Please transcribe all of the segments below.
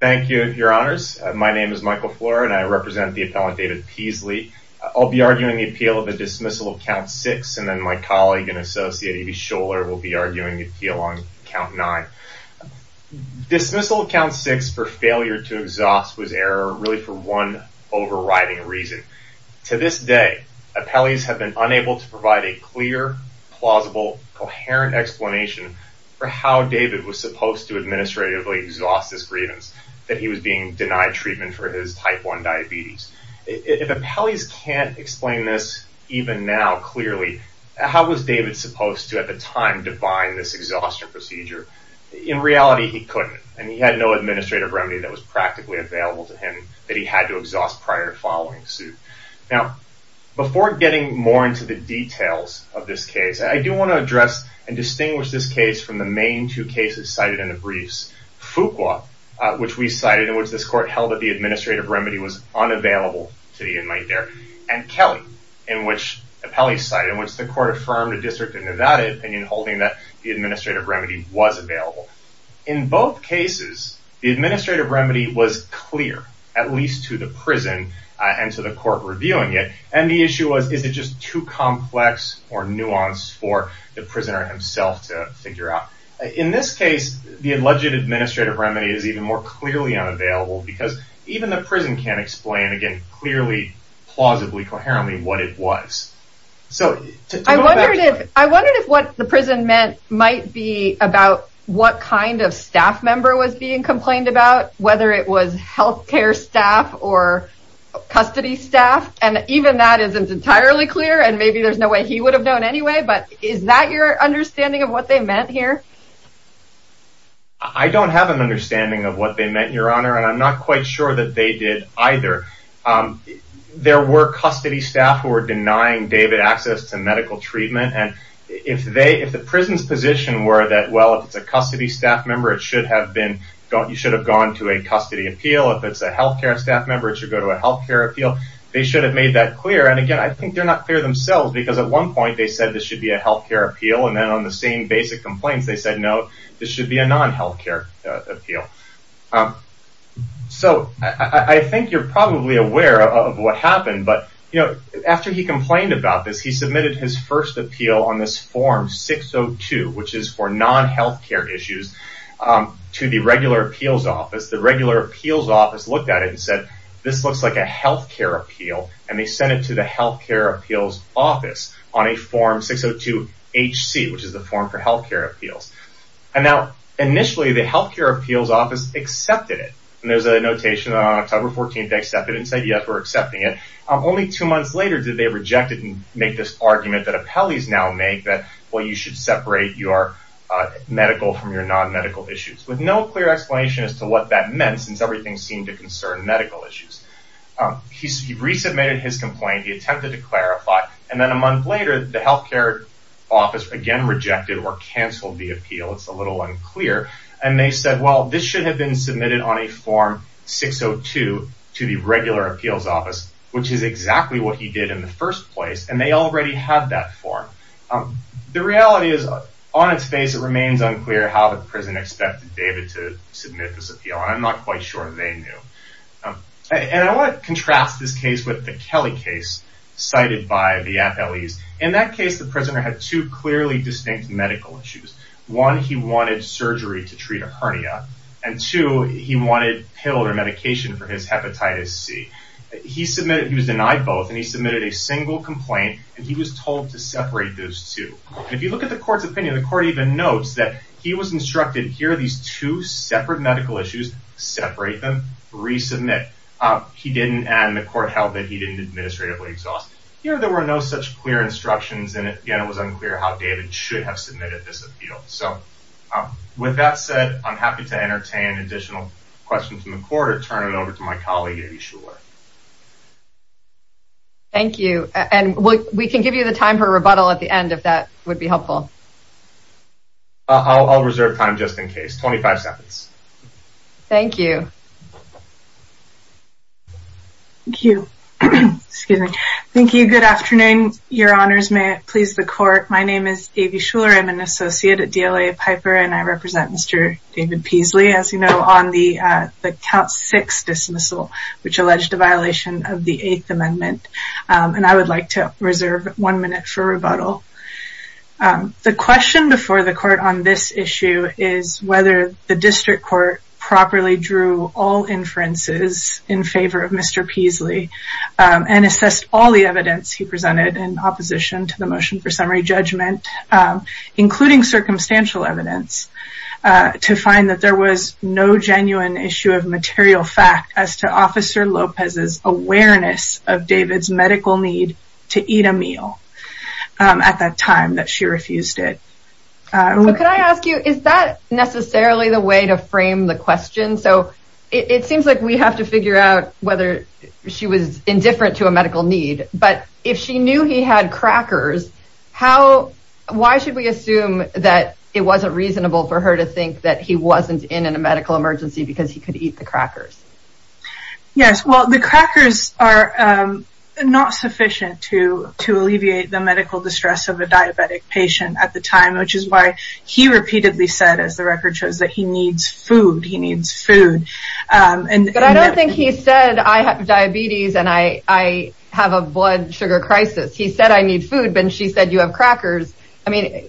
Thank you, your honors. My name is Michael Flora and I represent the appellant David Peasley. I'll be arguing the appeal of a dismissal of count six and then my colleague and associate A.B. Scholar will be arguing the appeal on count nine. Dismissal of count six for failure to exhaust was error really for one overriding reason. To this day, appellees have been unable to provide a clear plausible coherent explanation for how David was supposed to administratively exhaust this grievance that he was being denied treatment for his type 1 diabetes. If appellees can't explain this even now clearly, how was David supposed to at the time define this exhaustion procedure? In reality, he couldn't and he had no administrative remedy that was practically available to him that he had to exhaust prior to following suit. Now before getting more into the details of this case, I do want to address and distinguish this case from the main two cases cited in the briefs. Fuqua, which we cited, in which this court held that the administrative remedy was unavailable to the inmate there, and Kelly, in which appellees cited, in which the court affirmed a district of Nevada opinion holding that the administrative remedy was available. In both cases, the administrative remedy was clear, at least to the prison and to the court reviewing it, and the issue was is it just too complex or nuanced for the prisoner himself to figure out. In this case, the alleged administrative remedy is even more clearly unavailable because even the prison can't explain again clearly, plausibly, coherently what it was. So I wondered if what the prison meant might be about what kind of staff member was being complained about, whether it was health care staff or custody staff, and even that isn't entirely clear and maybe there's no way he would have known anyway, but is that your understanding of what they meant here? I don't have an understanding of what they meant, Your Honor, and I'm not quite sure that they did either. There were custody staff who were denying David access to medical treatment, and if they, if the prison's position were that, well, if it's a custody staff member, it should have been, you should have gone to a custody appeal. If it's a health care staff member, it should go to a health care appeal. They should have made that clear, and again, I think they're not clear themselves because at one point they said this should be a health care appeal, and then on the same basic complaints they said, no, this should be a non-health care appeal. So I think you're probably aware of what happened, but, you know, after he complained about this, he submitted his first appeal on this form 602, which is for non-health care issues, to the regular appeals office. The regular appeals office looked at it and said, this looks like a health care appeal, and they sent it to the health care appeals office on a form 602 HC, which is the form for health care appeals. And now, initially, the health care appeals office accepted it, and there's a notation on October 14th, they accepted it and said, yes, we're accepting it. Only two months later did they reject it and make this argument that appellees now make that, well, you should separate your medical from your non-medical issues, with no clear explanation as to what that meant, since everything seemed to concern medical issues. He resubmitted his complaint, he attempted to clarify, and then a month later the health care office again rejected or canceled the appeal, it's a little unclear, and they said, well, this should have been submitted on a form 602 to the regular appeals office, which is exactly what he did in the first place, and they already have that form. The reality is, on its face, it remains unclear how the prison expected David to do what they knew. And I want to contrast this case with the Kelly case cited by the appellees. In that case, the prisoner had two clearly distinct medical issues. One, he wanted surgery to treat a hernia, and two, he wanted pill or medication for his hepatitis C. He submitted, he was denied both, and he submitted a single complaint, and he was told to separate those two. If you look at the court's opinion, the court even notes that he was instructed, here are these two separate medical issues, separate them, resubmit. He didn't, and the court held that he didn't administratively exhaust it. Here, there were no such clear instructions, and again, it was unclear how David should have submitted this appeal. So, with that said, I'm happy to entertain additional questions from the court or turn it over to my colleague, Amy Shuler. Thank you, and we can give you the time for a rebuttal at the end, if that would be helpful. I'll reserve time just in case, 25 seconds. Thank you. Thank you. Excuse me. Thank you. Good afternoon. Your honors, may it please the court. My name is Amy Shuler. I'm an associate at DLA Piper, and I represent Mr. David Peasley, as you know, on the count six dismissal, which alleged a violation of the Eighth Amendment, and I would like to reserve one minute for rebuttal. The question before the court on this issue is whether the district court properly drew all inferences in favor of Mr. Peasley and assessed all the evidence he presented in opposition to the motion for summary judgment, including circumstantial evidence, to find that there was no genuine issue of material fact as to Officer Lopez's awareness of David's medical need to eat a meal at that time that she refused it. Could I ask, is that necessarily the way to frame the question? So, it seems like we have to figure out whether she was indifferent to a medical need, but if she knew he had crackers, how, why should we assume that it wasn't reasonable for her to think that he wasn't in a medical emergency because he could eat the crackers? Yes, well, the crackers are not sufficient to alleviate the medical distress of a diabetic patient at the time, which is why he repeatedly said, as the record shows, that he needs food, he needs food. But I don't think he said I have diabetes and I have a blood sugar crisis. He said I need food, but she said you have crackers. I mean,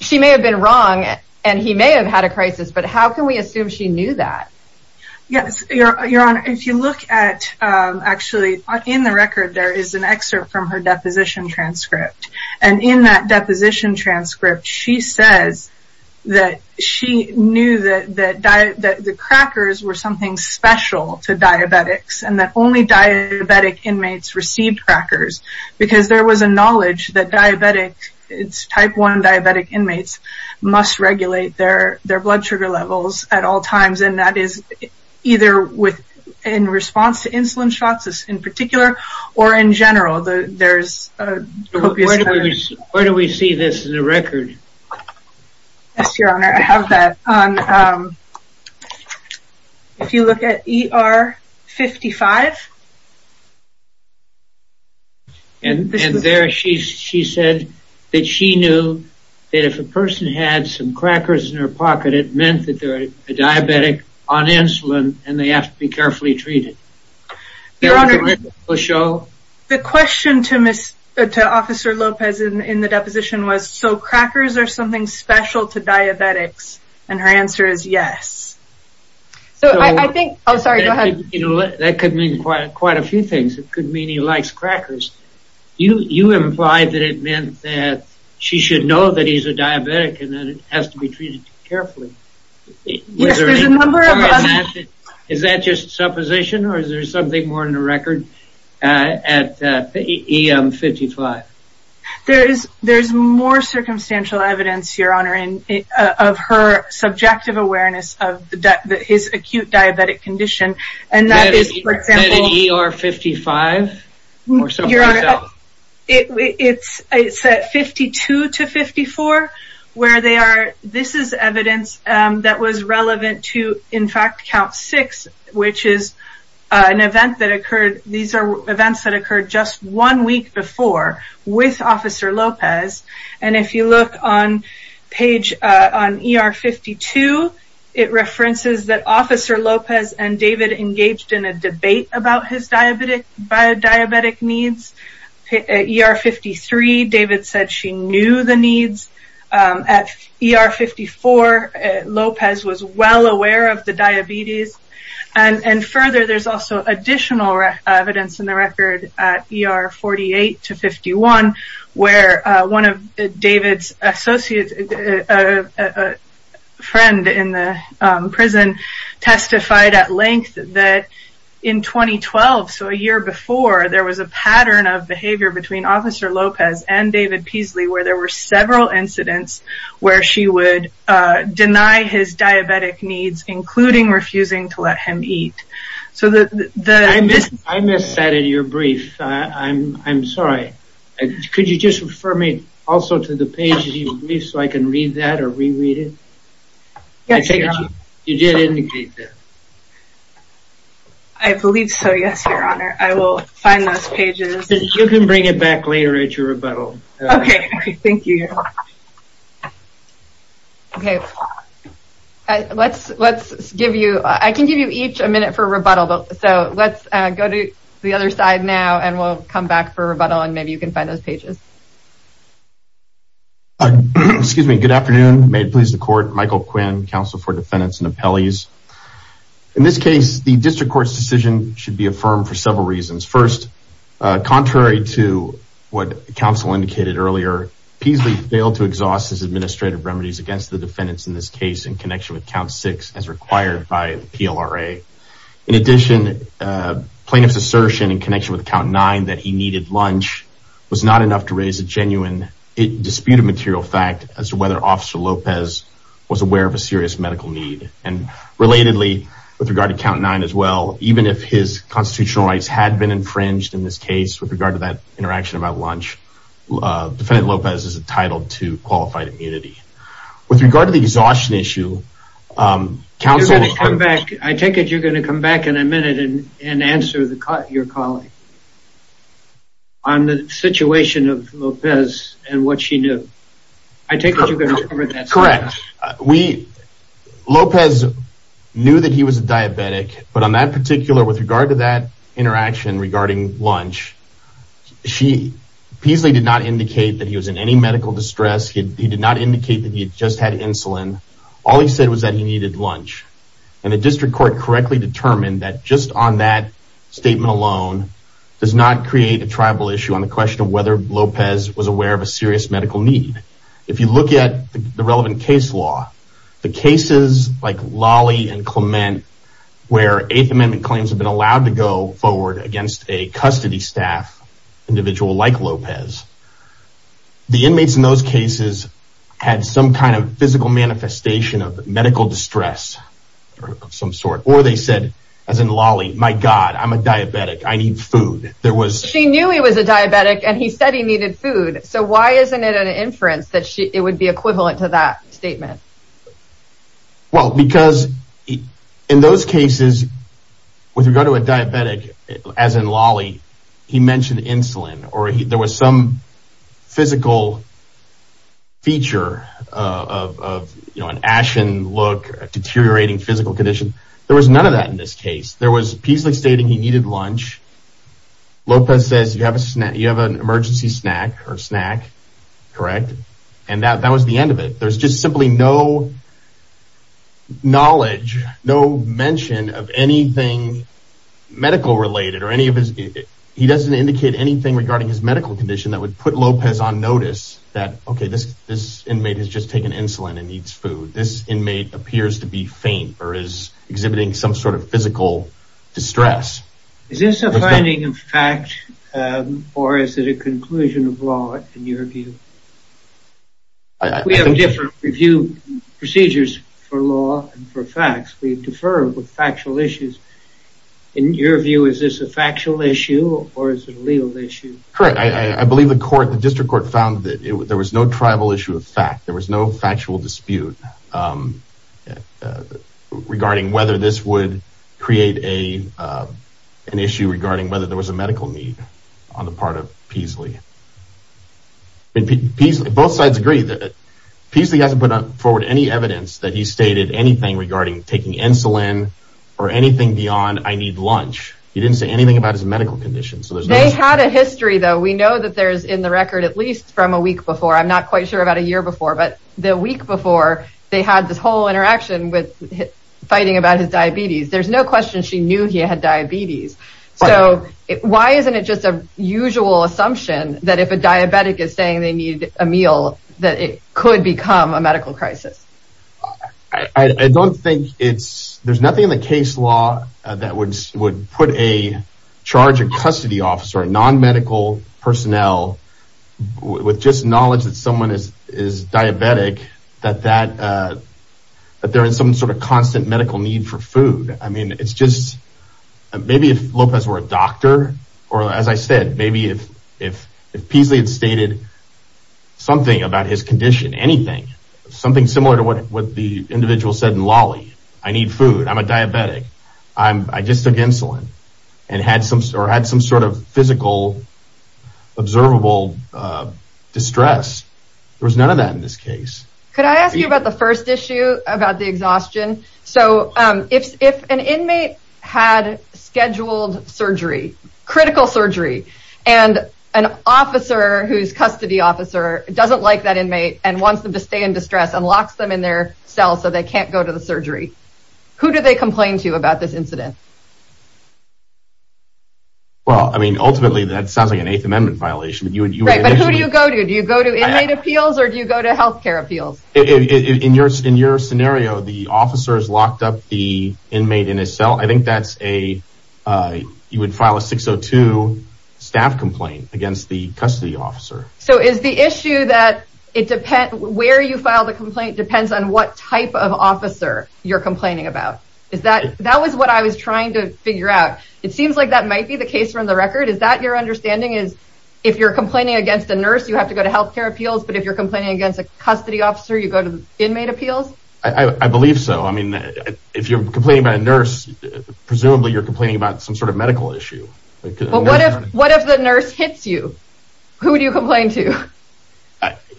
she may have been wrong and he may have had a crisis, but how can we assume she knew that? Yes, Your Honor, if you look at, actually, in the record there is an excerpt from her deposition transcript, and in that she knew that the crackers were something special to diabetics, and that only diabetic inmates received crackers, because there was a knowledge that diabetic, it's type 1 diabetic inmates, must regulate their their blood sugar levels at all times, and that is either with, in response to insulin shots in particular, or in general. There's, where do we see this in the record? Yes, Your Honor, if you look at ER 55, and there she said that she knew that if a person had some crackers in her pocket, it meant that they're a diabetic on insulin and they have to be carefully treated. The question to Officer Lopez in the deposition was, so crackers are something special to diabetics, and her answer is yes. So I think, oh sorry, go ahead. You know, that could mean quite a few things. It could mean he likes crackers. You implied that it meant that she should know that he's a diabetic and that it has to be treated carefully. Yes, there's a number of us. Is that just supposition, or is there something more in the record at ER 55? There is, there's more circumstantial evidence, Your Honor, of her subjective awareness of his acute diabetic condition, and that is, for example, it's at 52 to 54, where they are, this is evidence that was relevant to, in fact, count six, which is an event that occurred, these are events that occurred just one week before with Officer Lopez, and if you look on page, on ER 52, it references that Officer Lopez and David engaged in a debate about his diabetic needs. At ER 53, David said she knew the needs. At ER 54, Lopez was well aware of the diabetes, and further, there's also additional evidence in the record at ER 48 to 51, where one of David's associates, a friend in the prison, testified at length that in 2012, so a year before, there was a pattern of behavior between Officer Lopez and David Peasley, where there were several incidents where she would deny his I missed that in your brief. I'm sorry. Could you just refer me also to the pages in your brief so I can read that or reread it? Yes, Your Honor. You did indicate that. I believe so, yes, Your Honor. I will find those pages. You can bring it back later at your rebuttal. Okay, thank you, Your Honor. Okay, let's give you, I can give you each a minute for rebuttal, so let's go to the other side now, and we'll come back for rebuttal, and maybe you can find those pages. Excuse me. Good afternoon. May it please the Court. Michael Quinn, Counsel for Defendants and Appellees. In this case, the District Court's decision should be affirmed for several reasons. First, contrary to what counsel indicated earlier, Peasley failed to exhaust his administrative remedies against the defendants in this case in connection with count six as required by PLRA. In addition, plaintiff's assertion in connection with count nine that he needed lunch was not enough to raise a genuine dispute of material fact as to whether Officer Lopez was aware of a serious medical need, and relatedly, with regard to count nine as well, even if his constitutional rights had been infringed in this case with regard to that interaction about lunch, Defendant Lopez is entitled to qualified immunity. With regard to the exhaustion issue, counsel I take it you're going to come back in a minute and answer your colleague on the situation of Lopez, and what she knew. I take it you're going to cover that side. Correct. We, Lopez knew that he was diabetic, but on that particular, with regard to that, interaction regarding lunch, she, Peasley did not indicate that he was in any medical distress, he did not indicate that he had just had insulin. All he said was that he needed lunch, and the district court correctly determined that just on that statement alone, does not create a tribal issue on the question of whether Lopez was aware of a serious medical need. If you look at the relevant case law, the cases like Lawley and Clement, where Eighth Amendment claims have been allowed to go forward against a custody staff individual like Lopez, the inmates in those cases had some kind of physical manifestation of medical distress of some sort, or they said, as in Lawley, my God, I'm a diabetic, I need food. She knew he was a diabetic, and he said he needed food, so why isn't it an inference that it would be equivalent to that statement? Well, because in those cases, with regard to a diabetic, as in Lawley, he mentioned insulin, or there was some physical feature of an ashen look, deteriorating physical condition, there was none of that in this case. There was a piece stating he needed lunch, Lopez says you have an emergency snack, correct? And that was the end of it. There's just simply no knowledge, no mention of anything medical related, or any of his, he doesn't indicate anything regarding his medical condition that would put Lopez on notice that, okay, this inmate has just taken insulin and needs food. This inmate appears to be faint, or is exhibiting some sort of physical distress. Is this a finding of fact, or is it a conclusion of law, in your view? We have different review procedures for law and for facts, we defer with factual issues. In your view, is this a factual issue, or is it a legal issue? Correct, I believe the district court found that there was no tribal issue of fact, there was no factual dispute regarding whether this would create an issue regarding whether there was a medical need on the part of Peasley. Both sides agree that Peasley hasn't put forward any evidence that he stated anything regarding taking insulin, or anything beyond, I need lunch. He didn't say anything about his medical condition. They had a history, though, we know that there's in the record, at least from a week before, I'm not quite sure about a year before, but the week before, they had this whole interaction with fighting about his diabetes. There's no question she knew he had diabetes. So, why isn't it just a usual assumption that if a diabetic is saying they need a meal, that it could become a medical crisis? I don't think it's, there's nothing in the case law that would put a charge of custody officer, a non-medical personnel, with just knowledge that someone is diabetic, that they're in some sort of constant medical need for food. I mean, it's just, maybe if Lopez were a doctor, or as I said, maybe if Peasley had stated something about his condition, anything, something similar to what the individual said in Lawley, I need food, I'm a diabetic, I just took insulin, and had some sort of physical, observable distress. There was none of that in this case. Could I ask you about the first issue, about the exhaustion? So, if an inmate had scheduled surgery, critical surgery, and an officer, who's custody officer, doesn't like that inmate, and wants them to stay in distress, and locks them in their cell so they can't go to the surgery, who do they complain to about this incident? Well, I mean, ultimately, that sounds like an Eighth Amendment violation. Right, but who do you go to? Do you go to inmate appeals, or do you go to healthcare appeals? In your scenario, the officer's locked up the inmate in his cell, I think that's a, you would file a 602 staff complaint against the custody officer. So is the issue that it depends, where you file the complaint depends on what type of officer you're complaining about? Is that, that was what I was trying to figure out. It seems like that might be the case from the record, is that your understanding is, if you're complaining against a nurse, you have to go to healthcare appeals, but if you're complaining against a custody officer, you go to inmate appeals? I believe so. I mean, if you're complaining about a nurse, presumably you're complaining about some sort of medical issue. But what if the nurse hits you? Who do you complain to?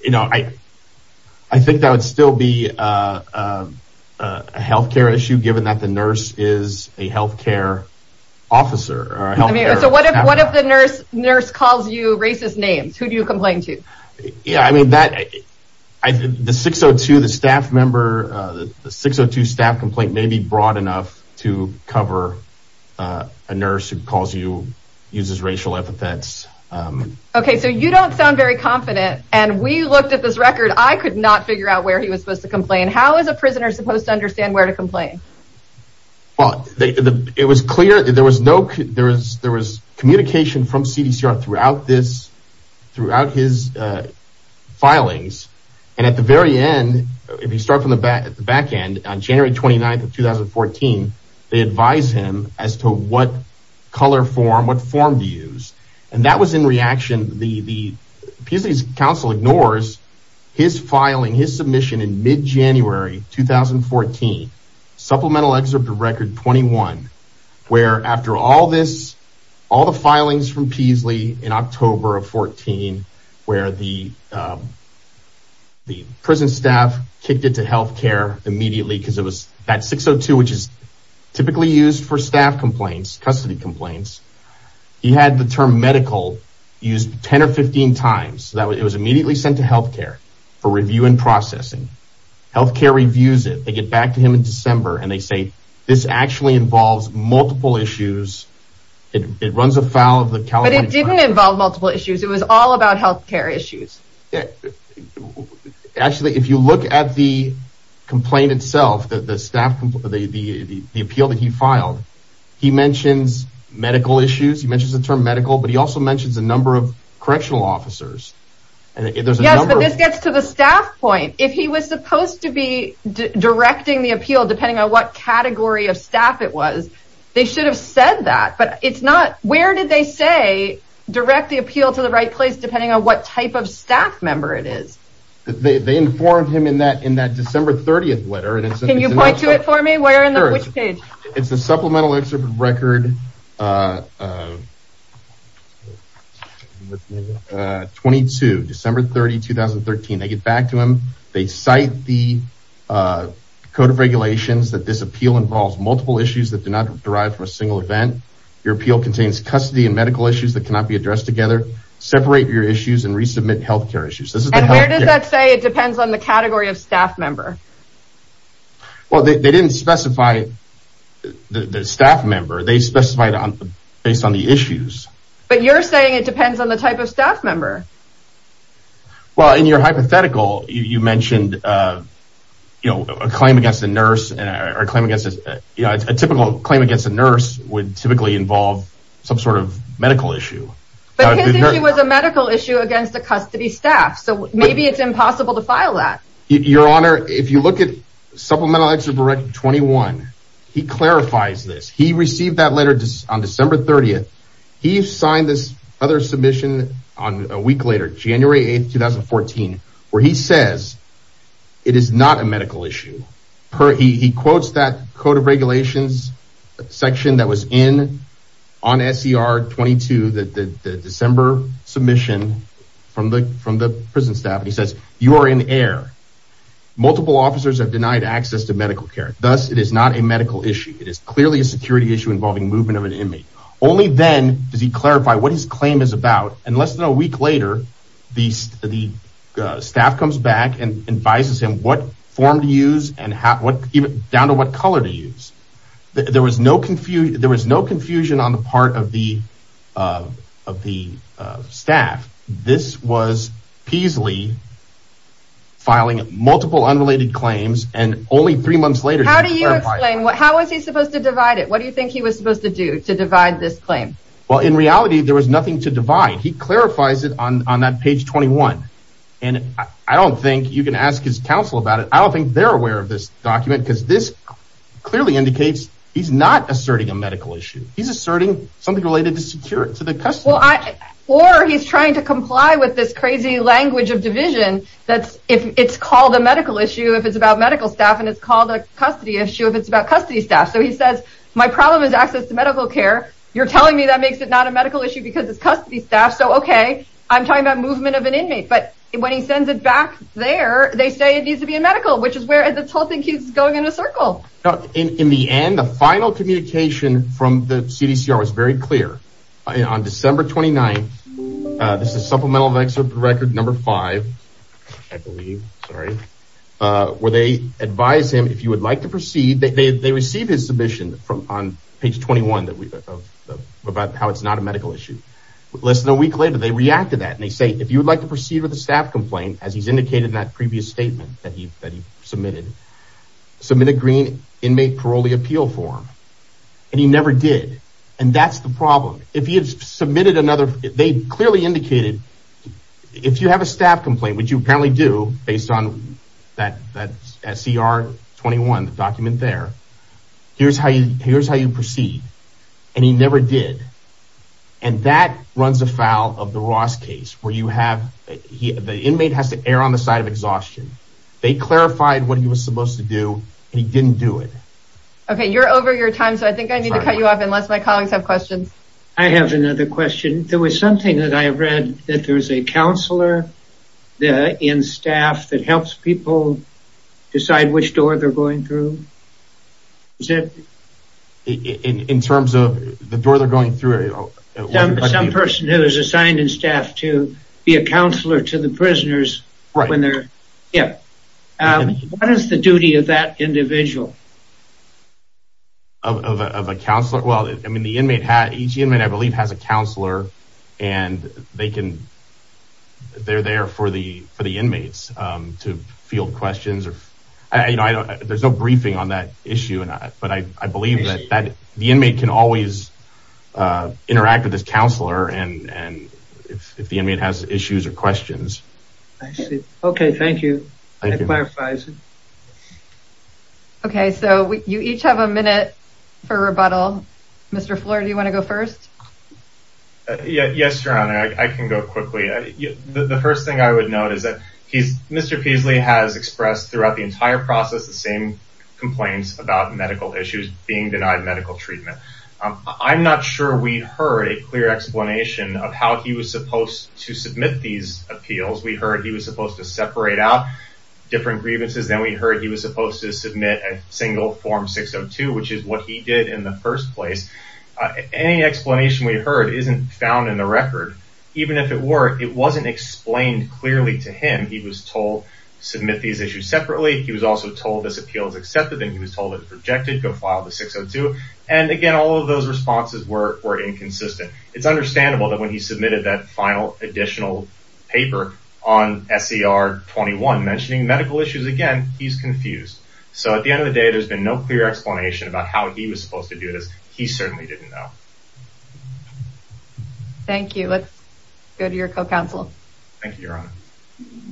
You know, I think that would still be a healthcare issue, given that the nurse is a healthcare officer. So what if the nurse calls you racist names? Who do you complain to? Yeah, I mean that, the 602, the staff member, the 602 staff complaint may be broad enough to cover a nurse who calls you, uses racial epithets. Okay, so you don't sound very confident, and we looked at this record, I could not figure out where he was supposed to complain. How is a prisoner supposed to understand where to complain? Well, it was clear, there was communication from CDCR throughout this, throughout his filings, and at the very end, if you start from the back end, on January 29th of 2014, they advised him as to what color form, what form to use. And that was in reaction, Peasley's counsel ignores his filing, his submission in mid-January 2014, supplemental excerpt of record 21, where after all this, all the filings from Peasley in October of 2014, where the prison staff kicked it to healthcare immediately, because it was, that 602, which is typically used for staff complaints, custody complaints, he had the term medical used 10 or 15 times, so it was immediately sent to healthcare for review and processing. Healthcare reviews it, they get back to him in December, and they say, this actually involves multiple issues, it runs afoul of the California... But it didn't involve multiple issues, it was all about healthcare issues. Actually, if you look at the complaint itself, the appeal that he filed, he mentions medical issues, he mentions the term medical, but he also mentions a number of correctional officers. Yes, but this gets to the staff point, if he was supposed to be directing the appeal, depending on what category of staff it was, they should have said that, but it's not, where did they say, direct the appeal to the right place, depending on what type of staff member it is? They informed him in that December 30th letter. Can you point to it for me, where, on which page? It's the Supplemental Exhibit Record 22, December 30, 2013. They get back to him, they cite the Code of Regulations that this appeal involves multiple issues that do not derive from a single event. Your appeal contains custody and medical issues that cannot be addressed together. Separate your issues and resubmit healthcare issues. And where does that say it depends on the category of staff member? Well, they didn't specify the staff member, they specified based on the issues. But you're saying it depends on the type of staff member. Well, in your hypothetical, you mentioned a claim against a nurse, a typical claim against a nurse would typically involve some sort of medical issue. But his issue was a medical issue against a custody staff, so maybe it's impossible to file that. Your Honor, if you look at Supplemental Exhibit Record 21, he clarifies this. He received that letter on December 30th. He signed this other submission a week later, January 8th, 2014, where he says it is not a medical issue. He quotes that Code of Regulations section that was in, on SER 22, the December submission from the prison staff. He says, you are in the air. Multiple officers have denied access to medical care. Thus, it is not a medical issue. It is clearly a security issue involving movement of an inmate. Only then does he clarify what his claim is about. And less than a week later, the staff comes back and advises him what form to use and down to what color to use. There was no confusion on the part of the staff. This was Peasley filing multiple unrelated claims, and only three months later did he clarify it. How do you explain? How was he supposed to divide it? What do you think he was supposed to do to divide this claim? Well, in reality, there was nothing to divide. He clarifies it on that page 21, and I don't think you can ask his counsel about it. I don't think they're aware of this document, because this clearly indicates he's not asserting a medical issue. He's asserting something related to security, to the custody. Or he's trying to comply with this crazy language of division that it's called a medical issue if it's about medical staff, and it's called a custody issue if it's about custody staff. So he says, my problem is access to medical care. You're telling me that makes it not a medical issue because it's custody staff. So, okay, I'm talking about movement of an inmate. But when he sends it back there, they say it needs to be a medical, which is where this whole thing keeps going in a circle. In the end, the final communication from the CDCR was very clear. On December 29th, this is supplemental of excerpt record number five, I believe, sorry, where they advise him, if you would like to proceed, they receive his submission on page 21 about how it's not a medical issue. Less than a week later, they react to that, and they say, if you would like to proceed with a staff complaint, as he's indicated in that previous statement that he submitted, submit a green inmate parolee appeal form. And he never did. And that's the problem. If he had submitted another, they clearly indicated, if you have a staff complaint, which you apparently do, based on that CR 21, the document there, here's how you proceed. And he never did. And that runs afoul of the Ross case, where you have, the inmate has to err on the side of exhaustion. They clarified what he was supposed to do, and he didn't do it. Okay, you're over your time, so I think I need to cut you off unless my colleagues have questions. I have another question. There was something that I read that there's a counselor in staff that helps people decide which door they're going through. In terms of the door they're going through? Some person who is assigned in staff to be a counselor to the prisoners. Right. Yeah. What is the duty of that individual? Of a counselor? Well, I mean, the inmate, each inmate, I believe, has a counselor. And they can, they're there for the inmates to field questions. There's no briefing on that issue. But I believe that the inmate can always interact with this counselor if the inmate has issues or questions. I see. Okay, thank you. That clarifies it. Okay, so you each have a minute for rebuttal. Mr. Fleur, do you want to go first? Yes, Your Honor, I can go quickly. The first thing I would note is that Mr. Peasley has expressed throughout the entire process the same complaints about medical issues being denied medical treatment. I'm not sure we heard a clear explanation of how he was supposed to submit these appeals. We heard he was supposed to separate out different grievances. Then we heard he was supposed to submit a single Form 602, which is what he did in the first place. Any explanation we heard isn't found in the record. Even if it were, it wasn't explained clearly to him. He was told to submit these issues separately. He was also told this appeal is accepted, and he was told it was rejected, go file the 602. And, again, all of those responses were inconsistent. It's understandable that when he submitted that final additional paper on SER 21 mentioning medical issues, again, he's confused. So at the end of the day, there's been no clear explanation about how he was supposed to do this. He certainly didn't know. Thank you. Let's go to your co-counsel. Thank you, Your Honor.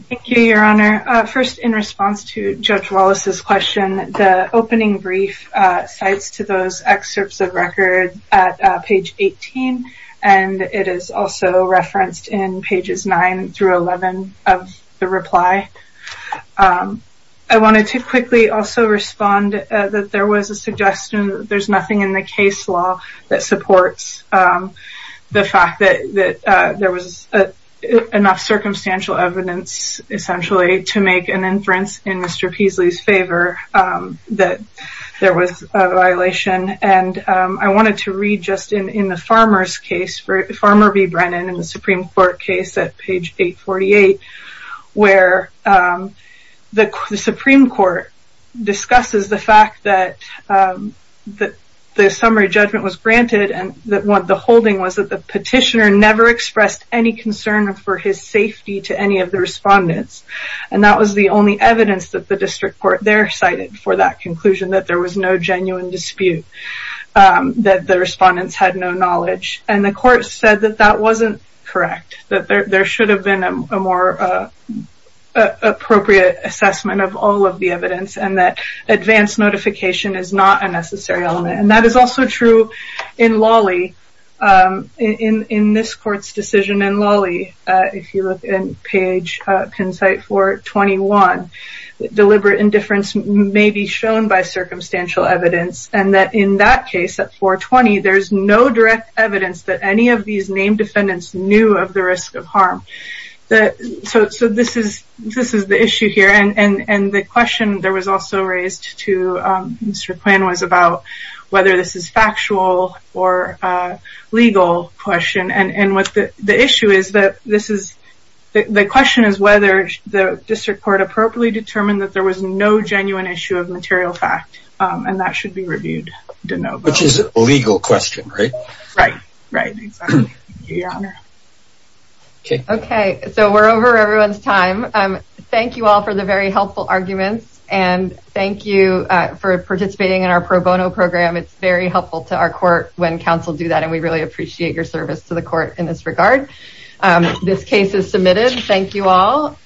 Thank you, Your Honor. First, in response to Judge Wallace's question, the opening brief cites to those excerpts of record at page 18, and it is also referenced in pages 9 through 11 of the reply. I wanted to quickly also respond that there was a suggestion that there's nothing in the case law that supports the fact that there was enough circumstantial evidence, essentially, to make an inference in Mr. Peaslee's favor that there was a violation. I wanted to read just in the farmer's case, Farmer v. Brennan in the Supreme Court case at page 848, where the Supreme Court discusses the fact that the summary judgment was granted, and the holding was that the petitioner never expressed any concern for his safety to any of the respondents. And that was the only evidence that the district court there cited for that conclusion, that there was no genuine dispute, that the respondents had no knowledge. And the court said that that wasn't correct, that there should have been a more appropriate assessment of all of the evidence, and that advance notification is not a necessary element. And that is also true in Lawley, in this court's decision in Lawley, if you look at page 421, deliberate indifference may be shown by circumstantial evidence, and that in that case at 420, there's no direct evidence that any of these named defendants knew of the risk of harm. So this is the issue here, and the question that was also raised to Mr. Quinn was about whether this is factual or legal question, and the issue is that the question is whether the district court appropriately determined that there was no genuine issue of material fact, and that should be reviewed de novo. Which is a legal question, right? Right, right, exactly. Okay, so we're over everyone's time. Thank you all for the very helpful arguments, and thank you for participating in our pro bono program. It's very helpful to our court when counsel do that, and we really appreciate your service to the court in this regard. This case is submitted, thank you all.